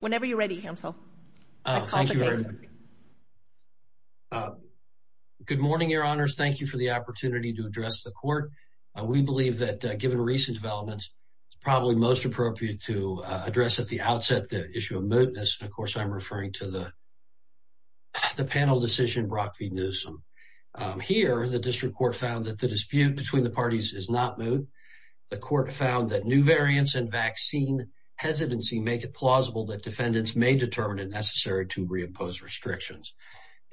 Whenever you're ready, Hamsel. Good morning, Your Honors. Thank you for the opportunity to address the court. We believe that given recent developments, it's probably most appropriate to address at the outset the issue of mootness. And of course, I'm referring to the panel decision, Brock v. Newsom. Here, the district court found that the dispute between the parties is not moot. The court found that new variants and vaccine hesitancy make it plausible that defendants may determine it necessary to reimpose restrictions.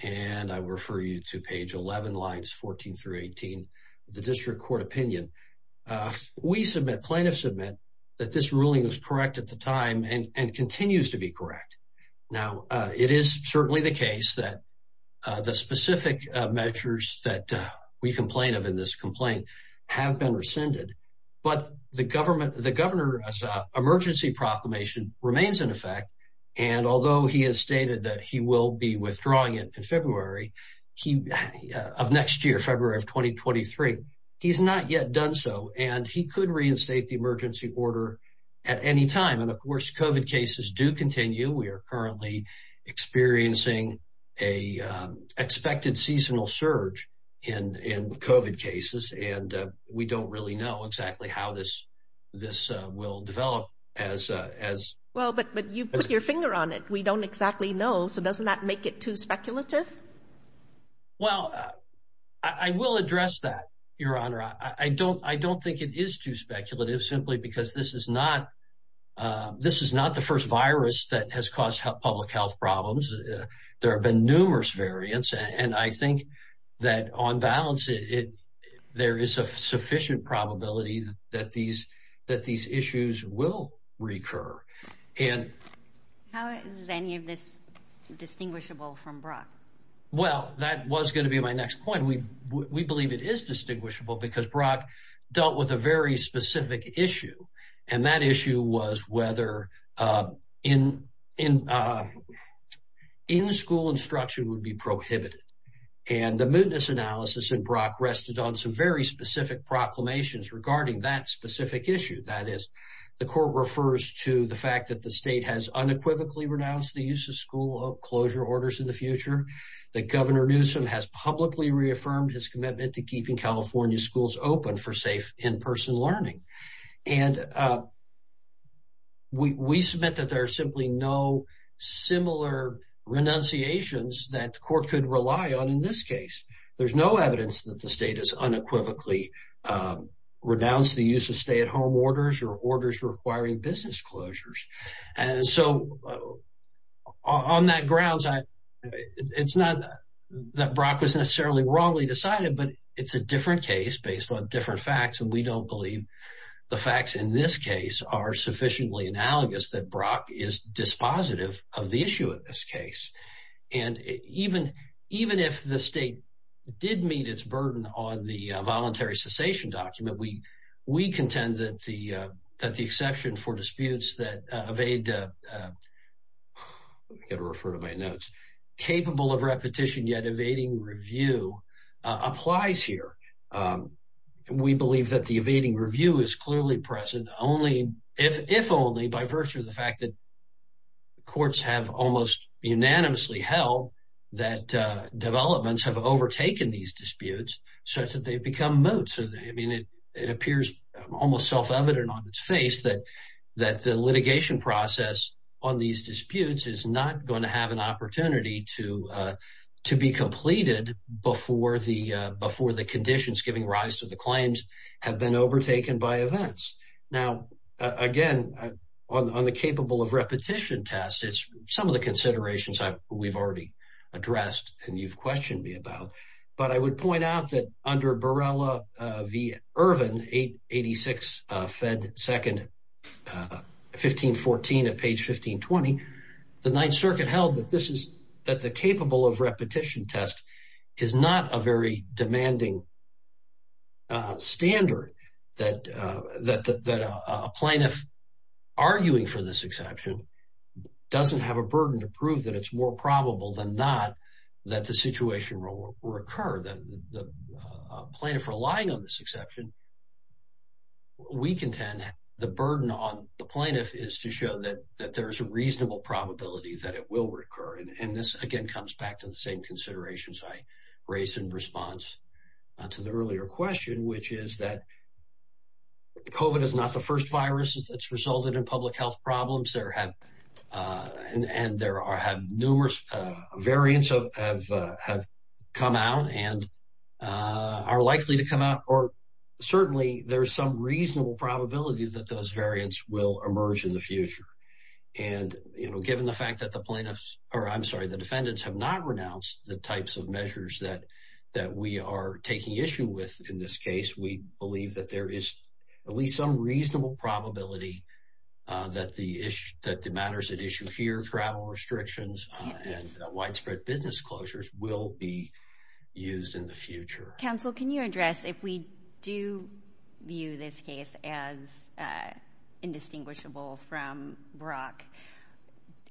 And I refer you to page 11, lines 14 through 18 of the district court opinion. We submit, plaintiffs submit, that this ruling was correct at the time and continues to be correct. Now, it is certainly the case that the specific measures that we complain of in this complaint have been rescinded. But the governor's and although he has stated that he will be withdrawing it in February of next year, February of 2023, he's not yet done so. And he could reinstate the emergency order at any time. And of course, COVID cases do continue. We are currently experiencing a expected seasonal surge in COVID cases. And we don't really know exactly how this this will develop as well. But you put your finger on it. We don't exactly know. So doesn't that make it too speculative? Well, I will address that, Your Honor. I don't I don't think it is too speculative simply because this is not this is not the first virus that has caused public health problems. There have been numerous variants. And I think that on balance it there is a sufficient probability that these that these issues will recur. And how is any of this distinguishable from Brock? Well, that was going to be my next point. We we believe it is distinguishable because Brock dealt with a very specific issue. And that issue was whether, uh, in in, uh, in school instruction would be prohibited. And the mootness analysis and Brock rested on some very specific proclamations regarding that specific issue. That is, the court refers to the fact that the state has unequivocally renounced the use of school closure orders in the future. That Governor Newsom has publicly reaffirmed his commitment to keeping California schools open for safe in person learning. And, uh, we submit that there are simply no similar renunciations that court could rely on. In this case, there's no evidence that the state is unequivocally, uh, renounced the use of stay at home orders or orders requiring business closures. And so on that grounds, it's not that Brock was necessarily wrongly decided, but it's a different case based on different facts. And we don't believe the facts in this case are sufficiently analogous that Brock is dispositive of the issue of this case. And even even if the state did meet its burden on the voluntary cessation document, we we contend that the that the exception for disputes that evade, uh, gotta refer to my notes capable of repetition, yet evading review applies here. Um, we believe that the evading review is clearly present only if only by virtue of the fact that courts have almost unanimously held that developments have overtaken these disputes such that they become moots. I mean, it appears almost self evident on its face that that the litigation process on these disputes is not going to have an opportunity to, uh, to be completed before the, uh, before the conditions giving rise to the claims have been overtaken by events. Now, again, on the capable of repetition test, it's some of the considerations that we've already addressed and you've questioned me about. But I would point out that under Borrella v. Irvin, 886 Fed 2nd, uh, 1514 at page 1520, the Ninth Circuit held that this is that the capable of repetition test is not a very demanding standard that that that a plaintiff arguing for this exception doesn't have a burden to prove that it's more probable than not that the situation will recur. The plaintiff relying on this exception, we contend the burden on the plaintiff is to show that that there's a that it will recur. And this again comes back to the same considerations I raised in response to the earlier question, which is that Covid is not the first virus that's resulted in public health problems. There have, uh, and and there are have numerous variants of have have come out and, uh, are likely to come out. Or certainly there's some reasonable probability that those variants will emerge in the future. And, you know, given the fact that the plaintiffs or I'm sorry, the defendants have not renounced the types of measures that that we are taking issue with. In this case, we believe that there is at least some reasonable probability that the issue that the matters at issue here, travel restrictions and widespread business closures will be used in the future. Council, can you address if we do view this case as indistinguishable from Brock?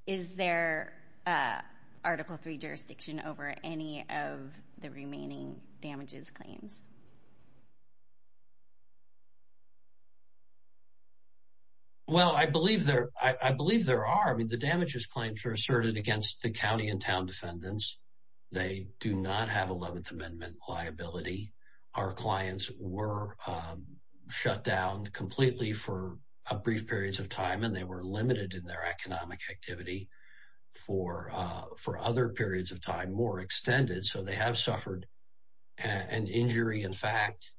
Is there, uh, Article three jurisdiction over any of the remaining damages claims? Well, I believe there I believe there are. I mean, the damages claims are asserted against the county and town defendants. They do not have 11th were shut down completely for a brief periods of time, and they were limited in their economic activity for for other periods of time more extended. So they have suffered an injury. In fact,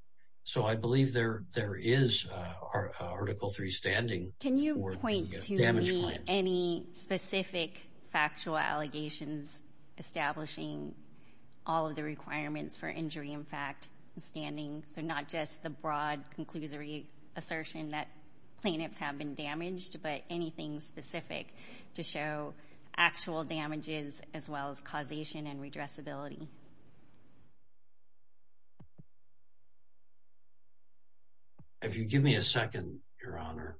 so I believe there there is our Article three standing. Can you point to any specific factual allegations establishing all of the requirements for injury? In fact, standing so not just the broad conclusory assertion that plaintiffs have been damaged, but anything specific to show actual damages as well as causation and redress ability. If you give me a second, Your Honor,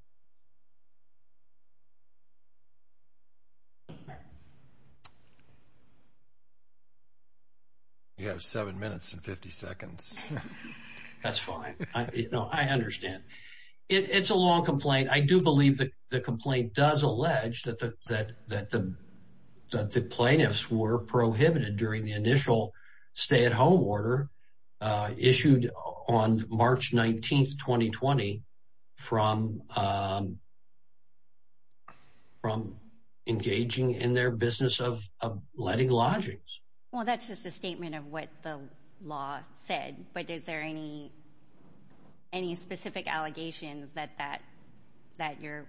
you have seven minutes and 50 seconds. That's fine. You know, I understand. It's a long complaint. I do believe that the complaint does allege that that that that the plaintiffs were prohibited during the initial stay at home order issued on March 19th 2020 from, um, from engaging in their business of letting lodging. Well, that's just a statement of what the law said. But is there any any specific allegations that that that you're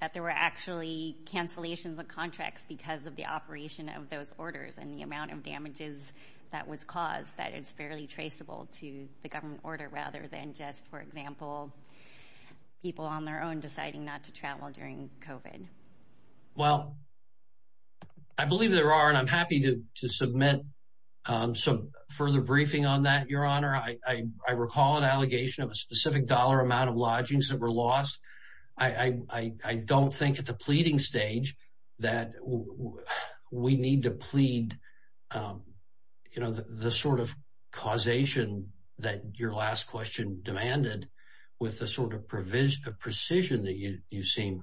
that there were actually cancellations of contracts because of the operation of those orders and the amount of damages that was caused that is fairly traceable to the government order rather than just, for example, people on their own deciding not to travel during Cove in? Well, I believe there are, and I'm happy to submit some further briefing on that. Your Honor, I recall an allegation of a specific dollar amount of lodgings that were lost. I don't think at the pleading stage that we need to plead. You know, the sort of causation that your last question demanded with the sort of provision of precision that you seem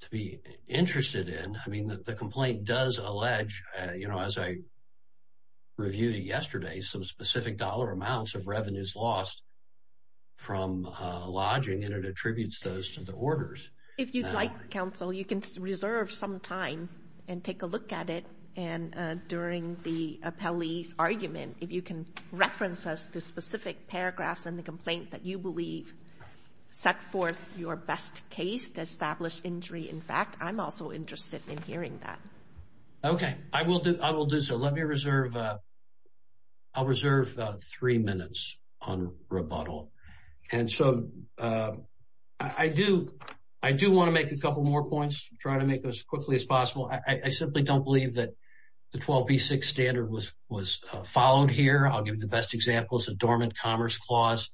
to be interested in. I mean, that the complaint does allege, you know, as I reviewed yesterday, some specific dollar amounts of revenues lost from lodging, and it attributes those to the orders. If you'd like, counsel, you can reserve some time and take a look at it. And during the appellee's argument, if you can reference us to specific paragraphs in the complaint that you believe set forth your best case to establish injury. In fact, I'm also interested in hearing that. Okay, I will do. I will do so. Let me reserve. I'll reserve three minutes on rebuttal. And so I do. I do want to make a couple more points. Try to make it as quickly as possible. I simply don't believe that the 12 B six standard was was followed here. I'll give the best examples of dormant commerce clause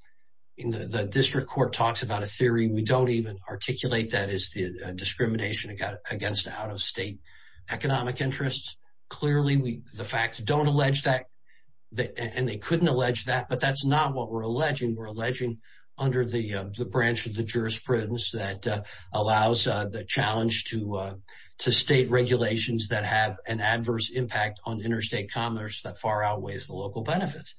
in the district court talks about a theory. We don't even articulate that is the discrimination against against out of state economic interests. Clearly, we the facts don't allege that, and they couldn't allege that. But that's not what we're alleging. We're alleging under the branch of the jurisprudence that allows the challenge to to state regulations that have an adverse impact on interstate commerce that far outweighs the local benefits.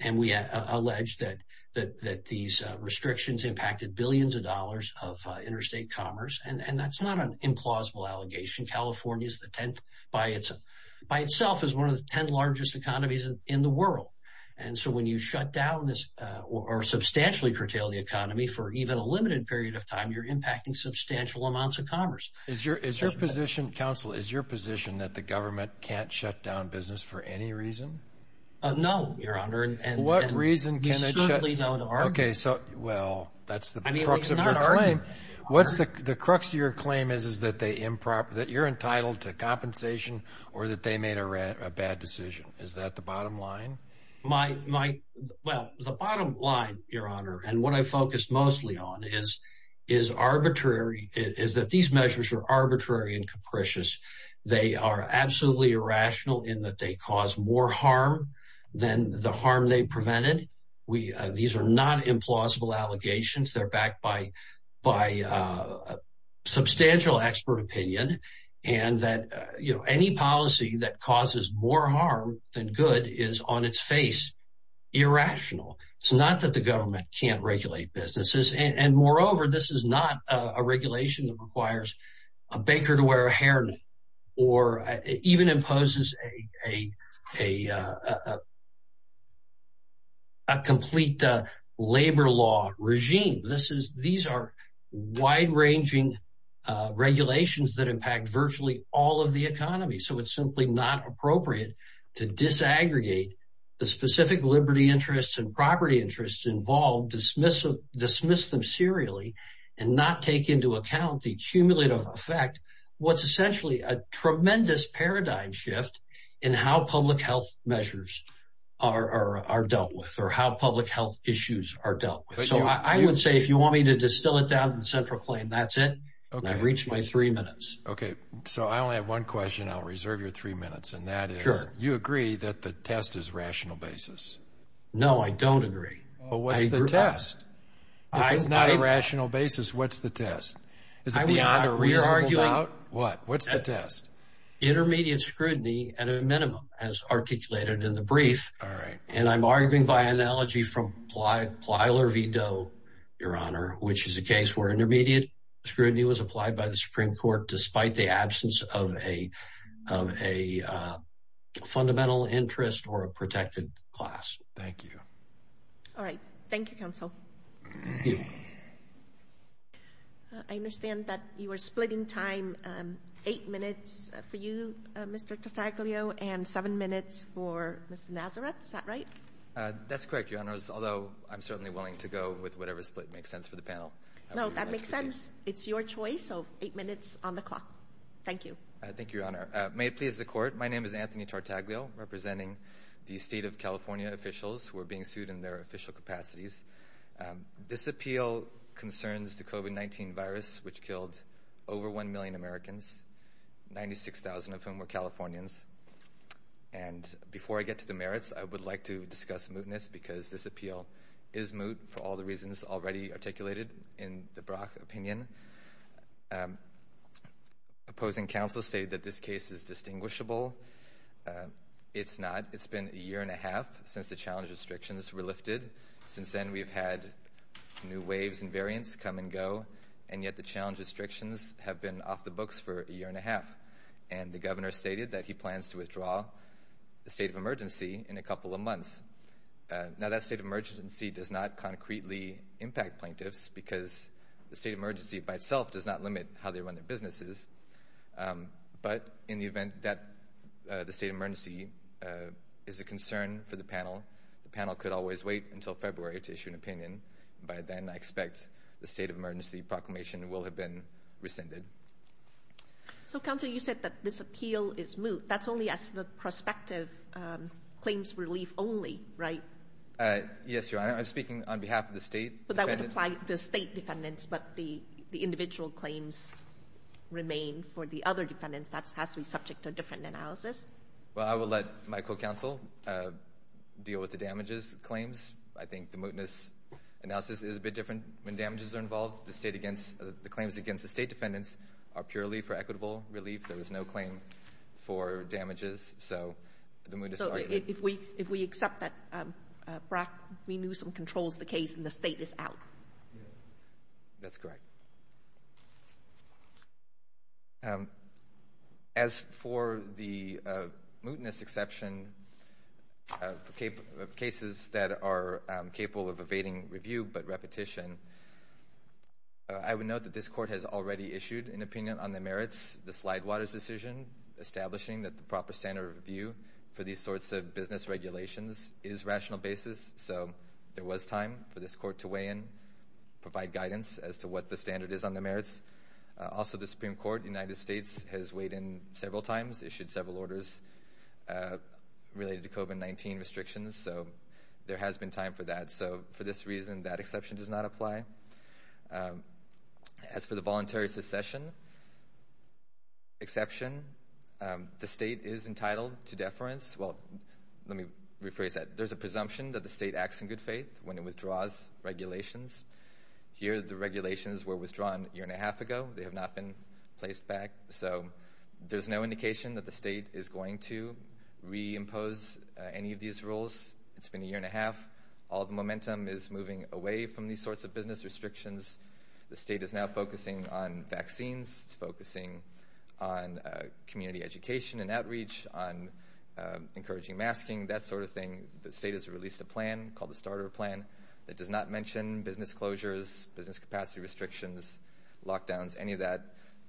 And we allege that that that these restrictions impacted billions of dollars of interstate commerce. And that's not an implausible allegation. California's the 10th by itself by itself is one of the 10 largest economies in the world. And so when you shut down this or substantially curtail the economy for even a limited period of time, you're impacting substantial amounts of commerce. Is your Is your position, counsel? Is your position that the government can't shut down business for any reason? No, your honor. And what reason? Can I certainly don't? Okay, so, well, that's the I mean, what's the crux of your claim is, is that they improper that you're entitled to compensation or that they made a bad decision? Is that the bottom line? My Well, the bottom line, your honor, and what I focused mostly on is is arbitrary is that these measures are arbitrary and capricious. They are absolutely irrational in that they cause more harm than the harm they prevented. We These are not implausible allegations. They're backed by by, uh, substantial expert opinion and that, you know, any policy that causes more harm than good is on its face. Irrational. It's not that the government can't regulate businesses. And moreover, this is not a regulation that requires a baker to wear a hairnet or even imposes a a complete labor law regime. This is these are wide ranging regulations that impact virtually all of the economy. So it's simply not appropriate to disaggregate the specific liberty interests and property interests involved dismissive, dismiss them serially and not take into account the cumulative effect. What's essentially a tremendous paradigm shift in how public health measures are dealt with or how public health issues are dealt with. So I would say if you want me to distill it down in central claim, that's it. I reached my three minutes. Okay, so I only have one question. I'll reserve your three minutes, and that you agree that the test is rational basis. No, I don't agree. But what's the test? I was not a rational basis. What's the test? Is it beyond a rear arguing out? What? What's the test? Intermediate scrutiny at a minimum, as articulated in the brief. All right. And I'm arguing by analogy from ply Plyler Vito, Your Honor, which is a case where intermediate scrutiny was applied by the Supreme Court, despite the absence of a of a fundamental interest or a protected class. Thank you. All right. Thank you, Counsel. I understand that you were splitting time eight minutes for you, Mr. Taglio and seven minutes for Miss Nazareth. Is that right? That's correct. Your Honor's although I'm certainly willing to go with whatever split makes sense for the panel. No, that makes sense. It's your choice. So eight minutes on the clock. Thank you. Thank you, Your Honor. May it please the court. My name is Anthony Tartaglio, representing the state of California. Officials were being sued in their official capacities. This appeal concerns the Kobe 19 virus, which killed over one million Americans, 96,000 of whom were Californians. And before I get to the merits, I would like to discuss mootness because this appeal is moot for all the reasons already articulated in the Brock opinion. Opposing counsel stated that this case is distinguishable. It's not. It's been a year and a half since the challenge restrictions were lifted. Since then, we've had new waves and variants come and go. And yet the challenge restrictions have been off the books for a year and a half. And the governor stated that he plans to withdraw the state of emergency in a couple of months. Now that state of emergency does not concretely impact plaintiffs because the state emergency by itself does not limit how they run their concern for the panel. The panel could always wait until February to issue an opinion. By then, I expect the state of emergency proclamation will have been rescinded. So, Council, you said that this appeal is moot. That's only as the prospective claims relief only, right? Yes, Your Honor. I'm speaking on behalf of the state, but I would apply the state defendants. But the individual claims remain for the other defendants. That's has to be subject to a different analysis. Well, I will let my co-counsel deal with the damages claims. I think the mootness analysis is a bit different when damages are involved. The state against the claims against the state defendants are purely for equitable relief. There was no claim for damages. So if we if we accept that, um, we knew some controls the case in the state is out. Yes, that's correct. Um, as for the mootness exception of cases that are capable of evading review but repetition, I would note that this court has already issued an opinion on the merits. The slide waters decision establishing that the proper standard of review for these sorts of business regulations is rational basis. So there was time for this court to weigh in, provide guidance as to what the standard is on the merits. Also, the Supreme Court United States has weighed in several times, issued several orders, uh, related to COVID-19 restrictions. So there has been time for that. So for this reason, that exception does not apply. Um, as for the voluntary succession exception, the state is entitled to deference. Well, let me rephrase that. There's a presumption that the state acts in good faith when it withdraws regulations. Here, the regulations were withdrawn a year and a half ago. They have not been placed back. So there's no indication that the state is going to reimpose any of these rules. It's been a year and a half. All the momentum is moving away from these sorts of business restrictions. The state is now focusing on vaccines, focusing on community education and outreach on encouraging masking. That sort of thing. The state has released a starter plan that does not mention business closures, business capacity restrictions, lockdowns, any of that.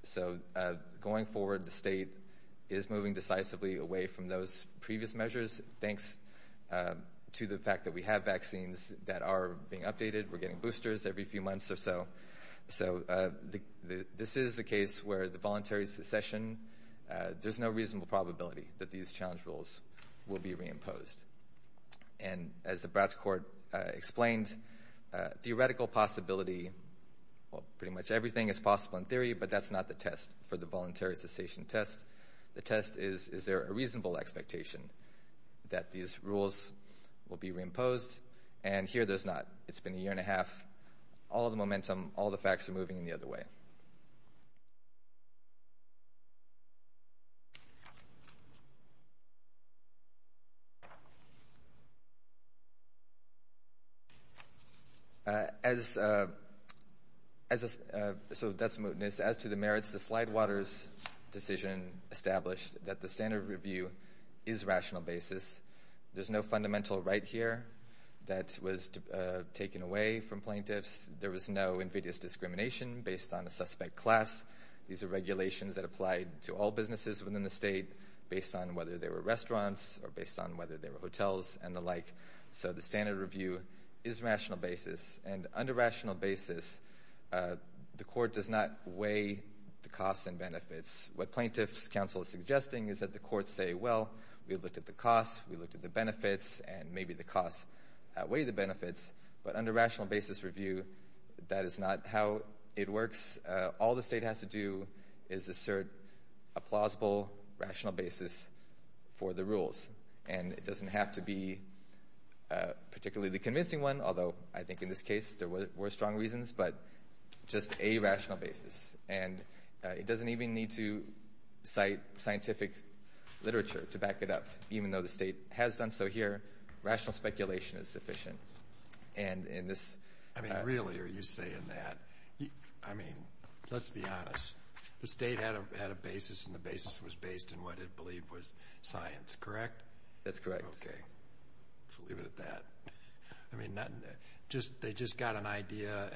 So, uh, going forward, the state is moving decisively away from those previous measures. Thanks, uh, to the fact that we have vaccines that are being updated. We're getting boosters every few months or so. So, uh, this is the case where the voluntary succession, uh, there's no reasonable probability that these challenge rules will be reimposed. And as the Bradford court explained, theoretical possibility, pretty much everything is possible in theory, but that's not the test for the voluntary cessation test. The test is, is there a reasonable expectation that these rules will be reimposed? And here there's not. It's been a year and a half. All of the momentum, all the facts are moving in the other way. Yeah. Uh, as, uh, as a, uh, so that's mootness. As to the merits, the slide waters decision established that the standard review is rational basis. There's no fundamental right here that was taken away from plaintiffs. There was no invidious discrimination based on a suspect class. These are regulations that applied to all businesses within the state based on whether they were restaurants or based on whether they were hotels and the like. So the standard review is rational basis and under rational basis. Uh, the court does not weigh the costs and benefits. What plaintiffs counsel is suggesting is that the court say, well, we've looked at the cost, we looked at the benefits and maybe the cost weigh the benefits. But under rational basis review, that is not how it works. All the state has to do is assert a plausible rational basis for the rules. And it doesn't have to be particularly the convincing one. Although I think in this case there were strong reasons, but just a rational basis. And it doesn't even need to cite scientific literature to back it up. Even though the state has done so here, rational speculation is sufficient. And in this, I mean, really, are you saying that? I mean, let's be honest. The state had a basis and the basis was based in what it believed was science, correct? That's correct. Okay. So leave it at that. I mean, just they just got an idea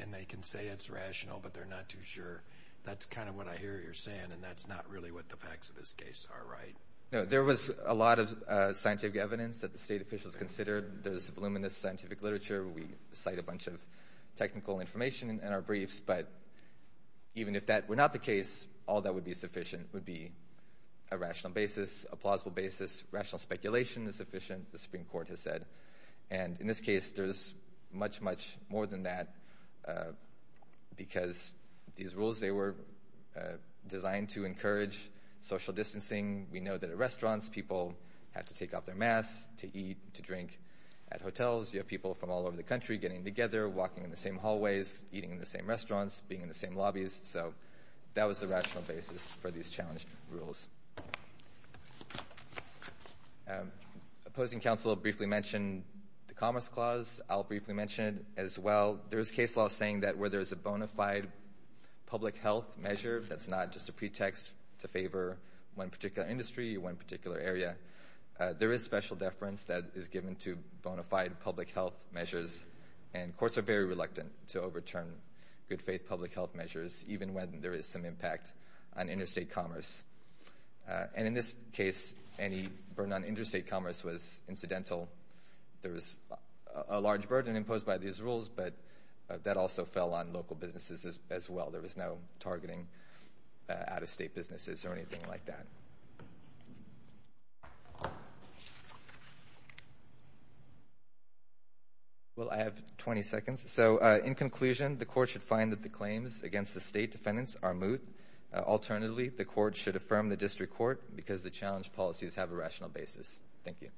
and they can say it's rational, but they're not too sure. That's kind of what I hear you're saying. And that's not really what the facts of this case are, right? No, there was a lot of scientific evidence that the state officials considered. There's voluminous scientific literature. We cite a bunch of technical information in our briefs. But even if that were not the case, all that would be sufficient would be a rational basis, a plausible basis. Rational speculation is sufficient, the Supreme Court has said. And in this case, there's much, much more than that. Because these rules, they were designed to encourage social distancing. We know that at restaurants, people have to take off their masks to eat, to drink. At hotels, you have people from all over the country getting together, walking in the same hallways, eating in the same restaurants, being in the same lobbies. So that was the rational basis for these challenged rules. Opposing counsel briefly mentioned the Commerce Clause, I'll briefly mention it as well. There's case law saying that where there's a bona fide public health measure, that's not just a pretext to favor one particular industry, one particular area. There is special deference that is and courts are very reluctant to overturn good faith public health measures, even when there is some impact on interstate commerce. And in this case, any burden on interstate commerce was incidental. There was a large burden imposed by these rules, but that also fell on local businesses as well. There was no targeting out-of-state businesses or anything like that. Well, I have 20 seconds. So in conclusion, the court should find that the claims against the state defendants are moot. Alternatively, the court should affirm the district court because the challenge policies have a rational basis. Thank you.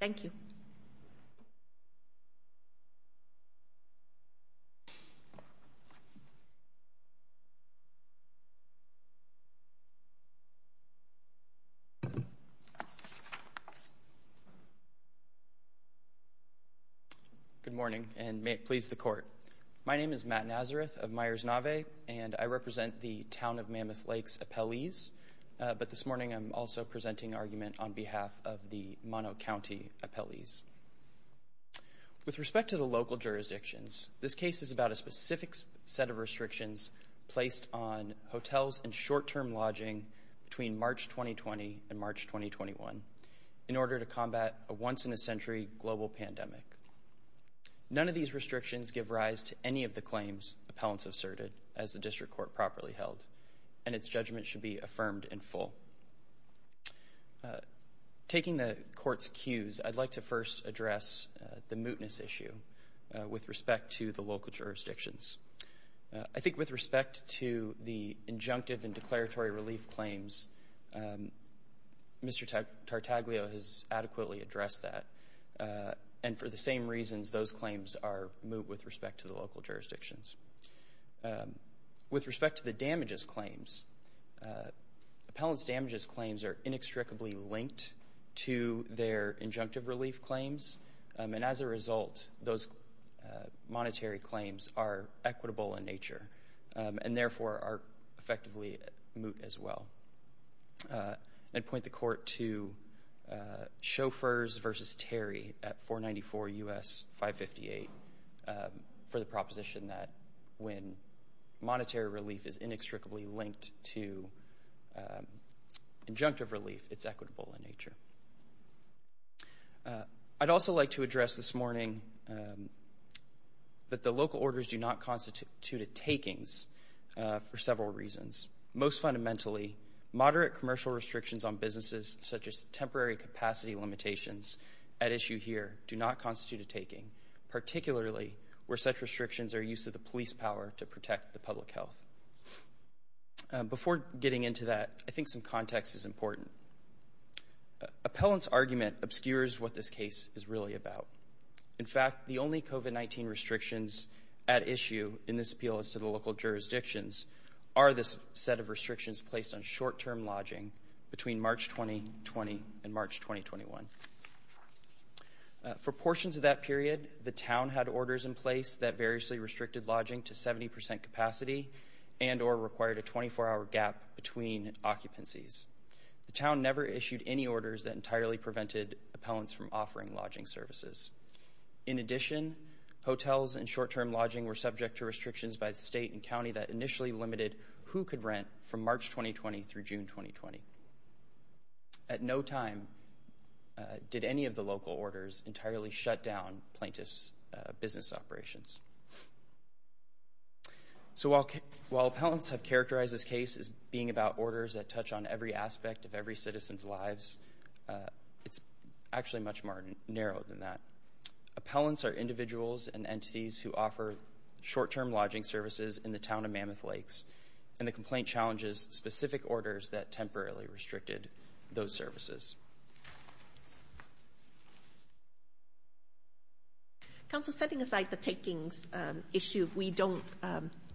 Thank you. Good morning, and may it please the court. My name is Matt Nazareth of Myers Nave, and I represent the Town of Mammoth Lakes Appellees, but this morning I'm also presenting argument on behalf of the Mono County Appellees. With respect to the local jurisdictions, this case is about a specific set of March 2020 and March 2021 in order to combat a once-in-a-century global pandemic. None of these restrictions give rise to any of the claims appellants asserted as the district court properly held, and its judgment should be affirmed in full. Taking the court's cues, I'd like to first address the mootness issue with respect to the local jurisdictions. I think with respect to the injunctive and um, Mr. Tartaglio has adequately addressed that, and for the same reasons those claims are moot with respect to the local jurisdictions. With respect to the damages claims, appellants' damages claims are inextricably linked to their injunctive relief claims, and as a result, those monetary claims are equitable in nature and therefore are effectively moot as well. I'd point the court to Chauffeurs v. Terry at 494 U.S. 558 for the proposition that when monetary relief is inextricably linked to, um, injunctive relief, it's equitable in nature. I'd also like to address this morning, um, that the local orders do not constitute a takings for several reasons. Most fundamentally, moderate commercial restrictions on businesses, such as temporary capacity limitations at issue here, do not constitute a taking, particularly where such restrictions are use of the police power to protect the public health. Before getting into that, I think some context is important. Appellants' argument obscures what this case is really about. In fact, the only COVID-19 restrictions at issue in this appeal as to the local jurisdictions are this set of restrictions placed on short-term lodging between March 2020 and March 2021. For portions of that period, the town had orders in place that variously restricted lodging to 70% capacity and or required a 24-hour gap between occupancies. The town never issued any orders that entirely prevented appellants from offering lodging services. In addition, hotels and short-term lodging were subject to restrictions by the state and county that initially limited who could rent from March 2020 through June 2020. At no time did any of the local orders entirely shut down plaintiffs' business operations. So while appellants have characterized this case as being about orders that touch on every aspect of every citizen's lives, it's actually much more narrow than that. Appellants are individuals and entities who offer short-term lodging services in the town of Mammoth Lakes, and the complaint challenges specific orders that temporarily restricted those services. Counsel, setting aside the takings issue, we don't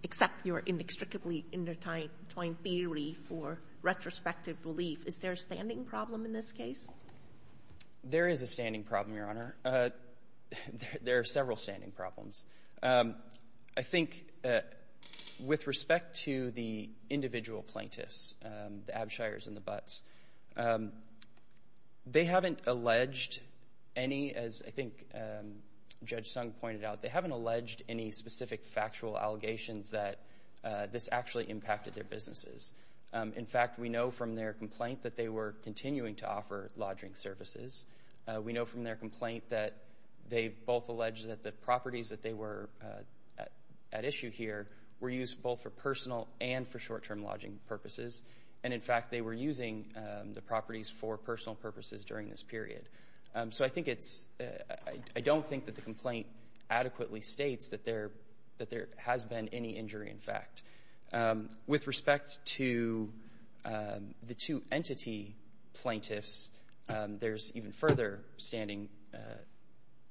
accept your inextricably intertwined theory for retrospective relief. Is there a standing problem in this case? There is a standing problem, Your Honor. There are several standing problems. I think with respect to the individual plaintiffs, the Abshires and the Butts, they haven't alleged any, as I think Judge Sung pointed out, they haven't alleged any specific factual allegations that this actually impacted their businesses. In fact, we know from their complaint that they were continuing to offer lodging services. We know from their complaint that they both alleged that the properties that they were at issue here were used both for personal and for short-term lodging purposes. And in fact, they were using the properties for personal purposes during this period. So I think it's I don't think that the complaint adequately states that there that there has been any injury, in fact. With respect to the two entity plaintiffs, there's even further standing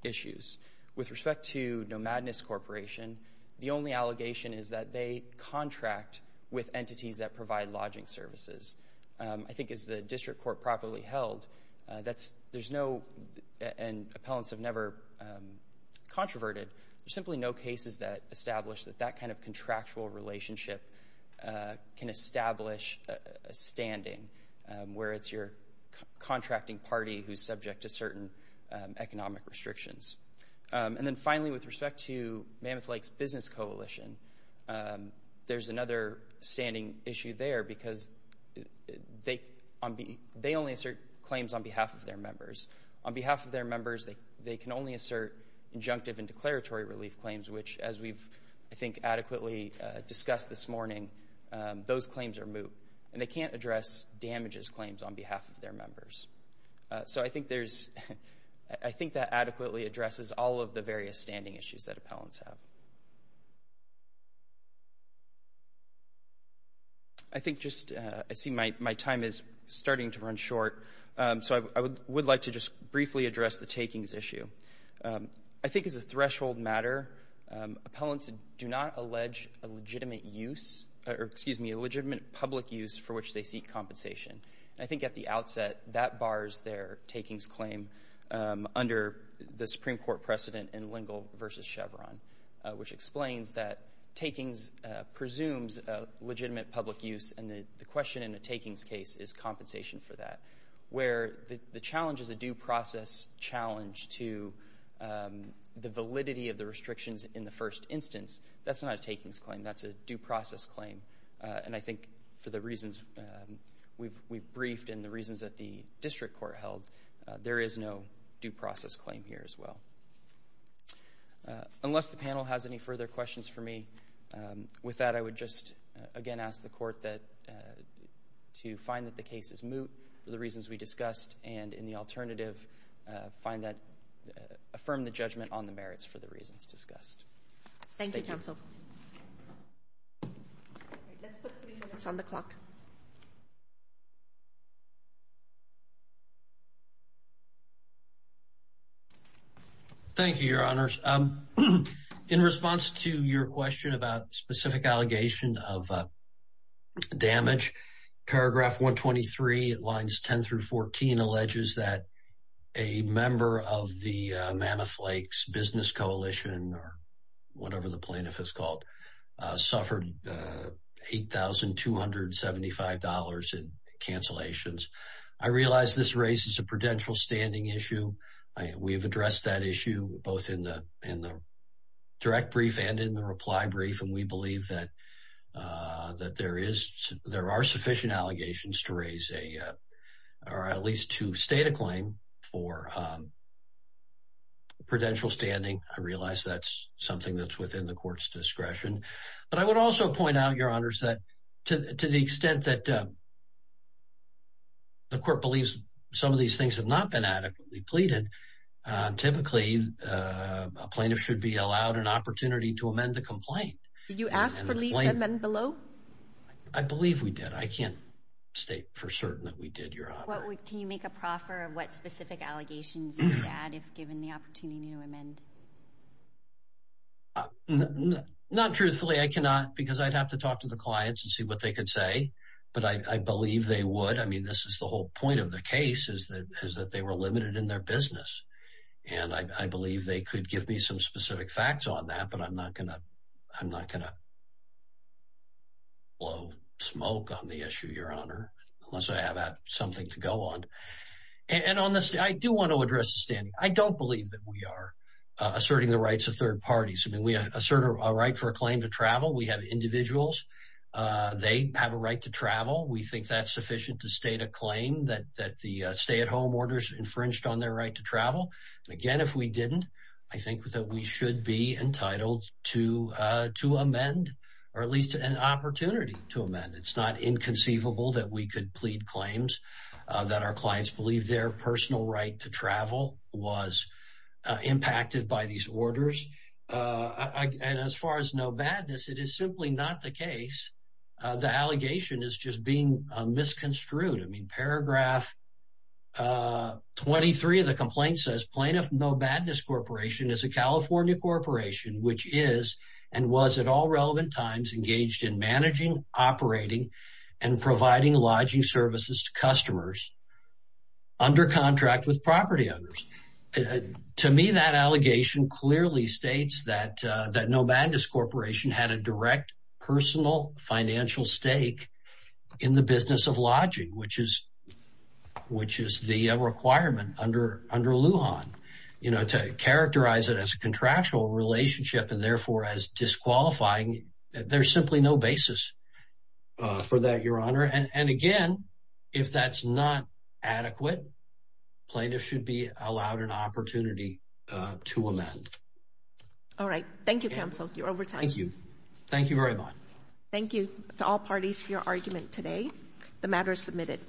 issues. With respect to Nomadness Corporation, the only allegation is that they contract with entities that provide lodging services. I think as the district court properly held, that's there's no and appellants have never controverted. There's simply no cases that establish that that kind of contractual relationship can establish a standing where it's your contracting party who's subject to certain economic restrictions. And then finally, with respect to Mammoth Lakes Business Coalition, there's another standing issue there because they only assert claims on behalf of their members. On behalf of their members, they can only assert injunctive and declaratory relief claims, which, as we've, I think, adequately discussed this morning, those claims are moot and they can't address damages claims on behalf of their members. So I think there's, I think that adequately addresses all of the various standing issues that appellants have. I think just, I see my time is starting to run short, so I would like to just briefly address the takings issue. I think as a threshold matter, appellants do not allege a legitimate use, or excuse me, a legitimate public use for which they seek compensation. I think at the outset, that bars their takings claim under the Supreme Court precedent in Lingle v. Chevron, which explains that takings presumes a legitimate public use, and the question in a takings case is compensation for that. Where the challenge is a due process challenge to the validity of the restrictions in the first instance, that's not a takings claim, that's a due process claim, and I think for the reasons we've briefed and the reasons that the district court held, there is no due process claim here as well. Unless the panel has any further questions for me, with that, I would just, again, ask the court that, to find that the case is moot for the reasons we discussed, and in the alternative, find that, affirm the judgment on the merits for the reasons discussed. Thank you, counsel. All right, let's put three minutes on the clock. Thank you, your honors. In response to your question about specific allegation of damage, paragraph 123, lines 10 through 14, alleges that a member of the Mammoth Lakes Business Coalition, or whatever the plaintiff is called, suffered $8,275 in cancellations. I realize this raises a prudential standing issue. We've addressed that issue, both in the direct brief and in the reply brief, and we believe that there are sufficient allegations to raise a, or at least to make a claim for prudential standing. I realize that's something that's within the court's discretion, but I would also point out, your honors, that to the extent that the court believes some of these things have not been adequately pleaded, typically, a plaintiff should be allowed an opportunity to amend the complaint. Did you ask for lease amendment below? I believe we did. I can't state for certain that we did, your honor. Can you make a proffer of what specific allegations you would add, if given the opportunity to amend? Not truthfully, I cannot, because I'd have to talk to the clients and see what they could say, but I believe they would. I mean, this is the whole point of the case, is that they were limited in their business, and I believe they could give me some specific facts on that, but I'm not going to blow smoke on the issue, your honor, unless I have something to go on, and honestly, I do want to address the standing. I don't believe that we are asserting the rights of third parties. I mean, we assert a right for a claim to travel. We have individuals, they have a right to travel. We think that's sufficient to state a claim that the stay-at-home orders infringed on their right to travel, and again, if we didn't, I think that we It's not inconceivable that we could plead claims that our clients believe their personal right to travel was impacted by these orders, and as far as no badness, it is simply not the case. The allegation is just being misconstrued. I mean, paragraph 23 of the complaint says, plaintiff no badness corporation is a California corporation, which is, and was at all relevant times, engaged in managing, operating, and providing lodging services to customers under contract with property owners. To me, that allegation clearly states that no badness corporation had a direct personal financial stake in the business of lodging, which is the requirement under Lujan, you know, to characterize it as a contractual relationship and therefore, as disqualifying, there's simply no basis for that, Your Honor. And again, if that's not adequate, plaintiff should be allowed an opportunity to amend. All right. Thank you, counsel. You're over time. Thank you. Thank you very much. Thank you to all parties for your argument today. The matter is submitted.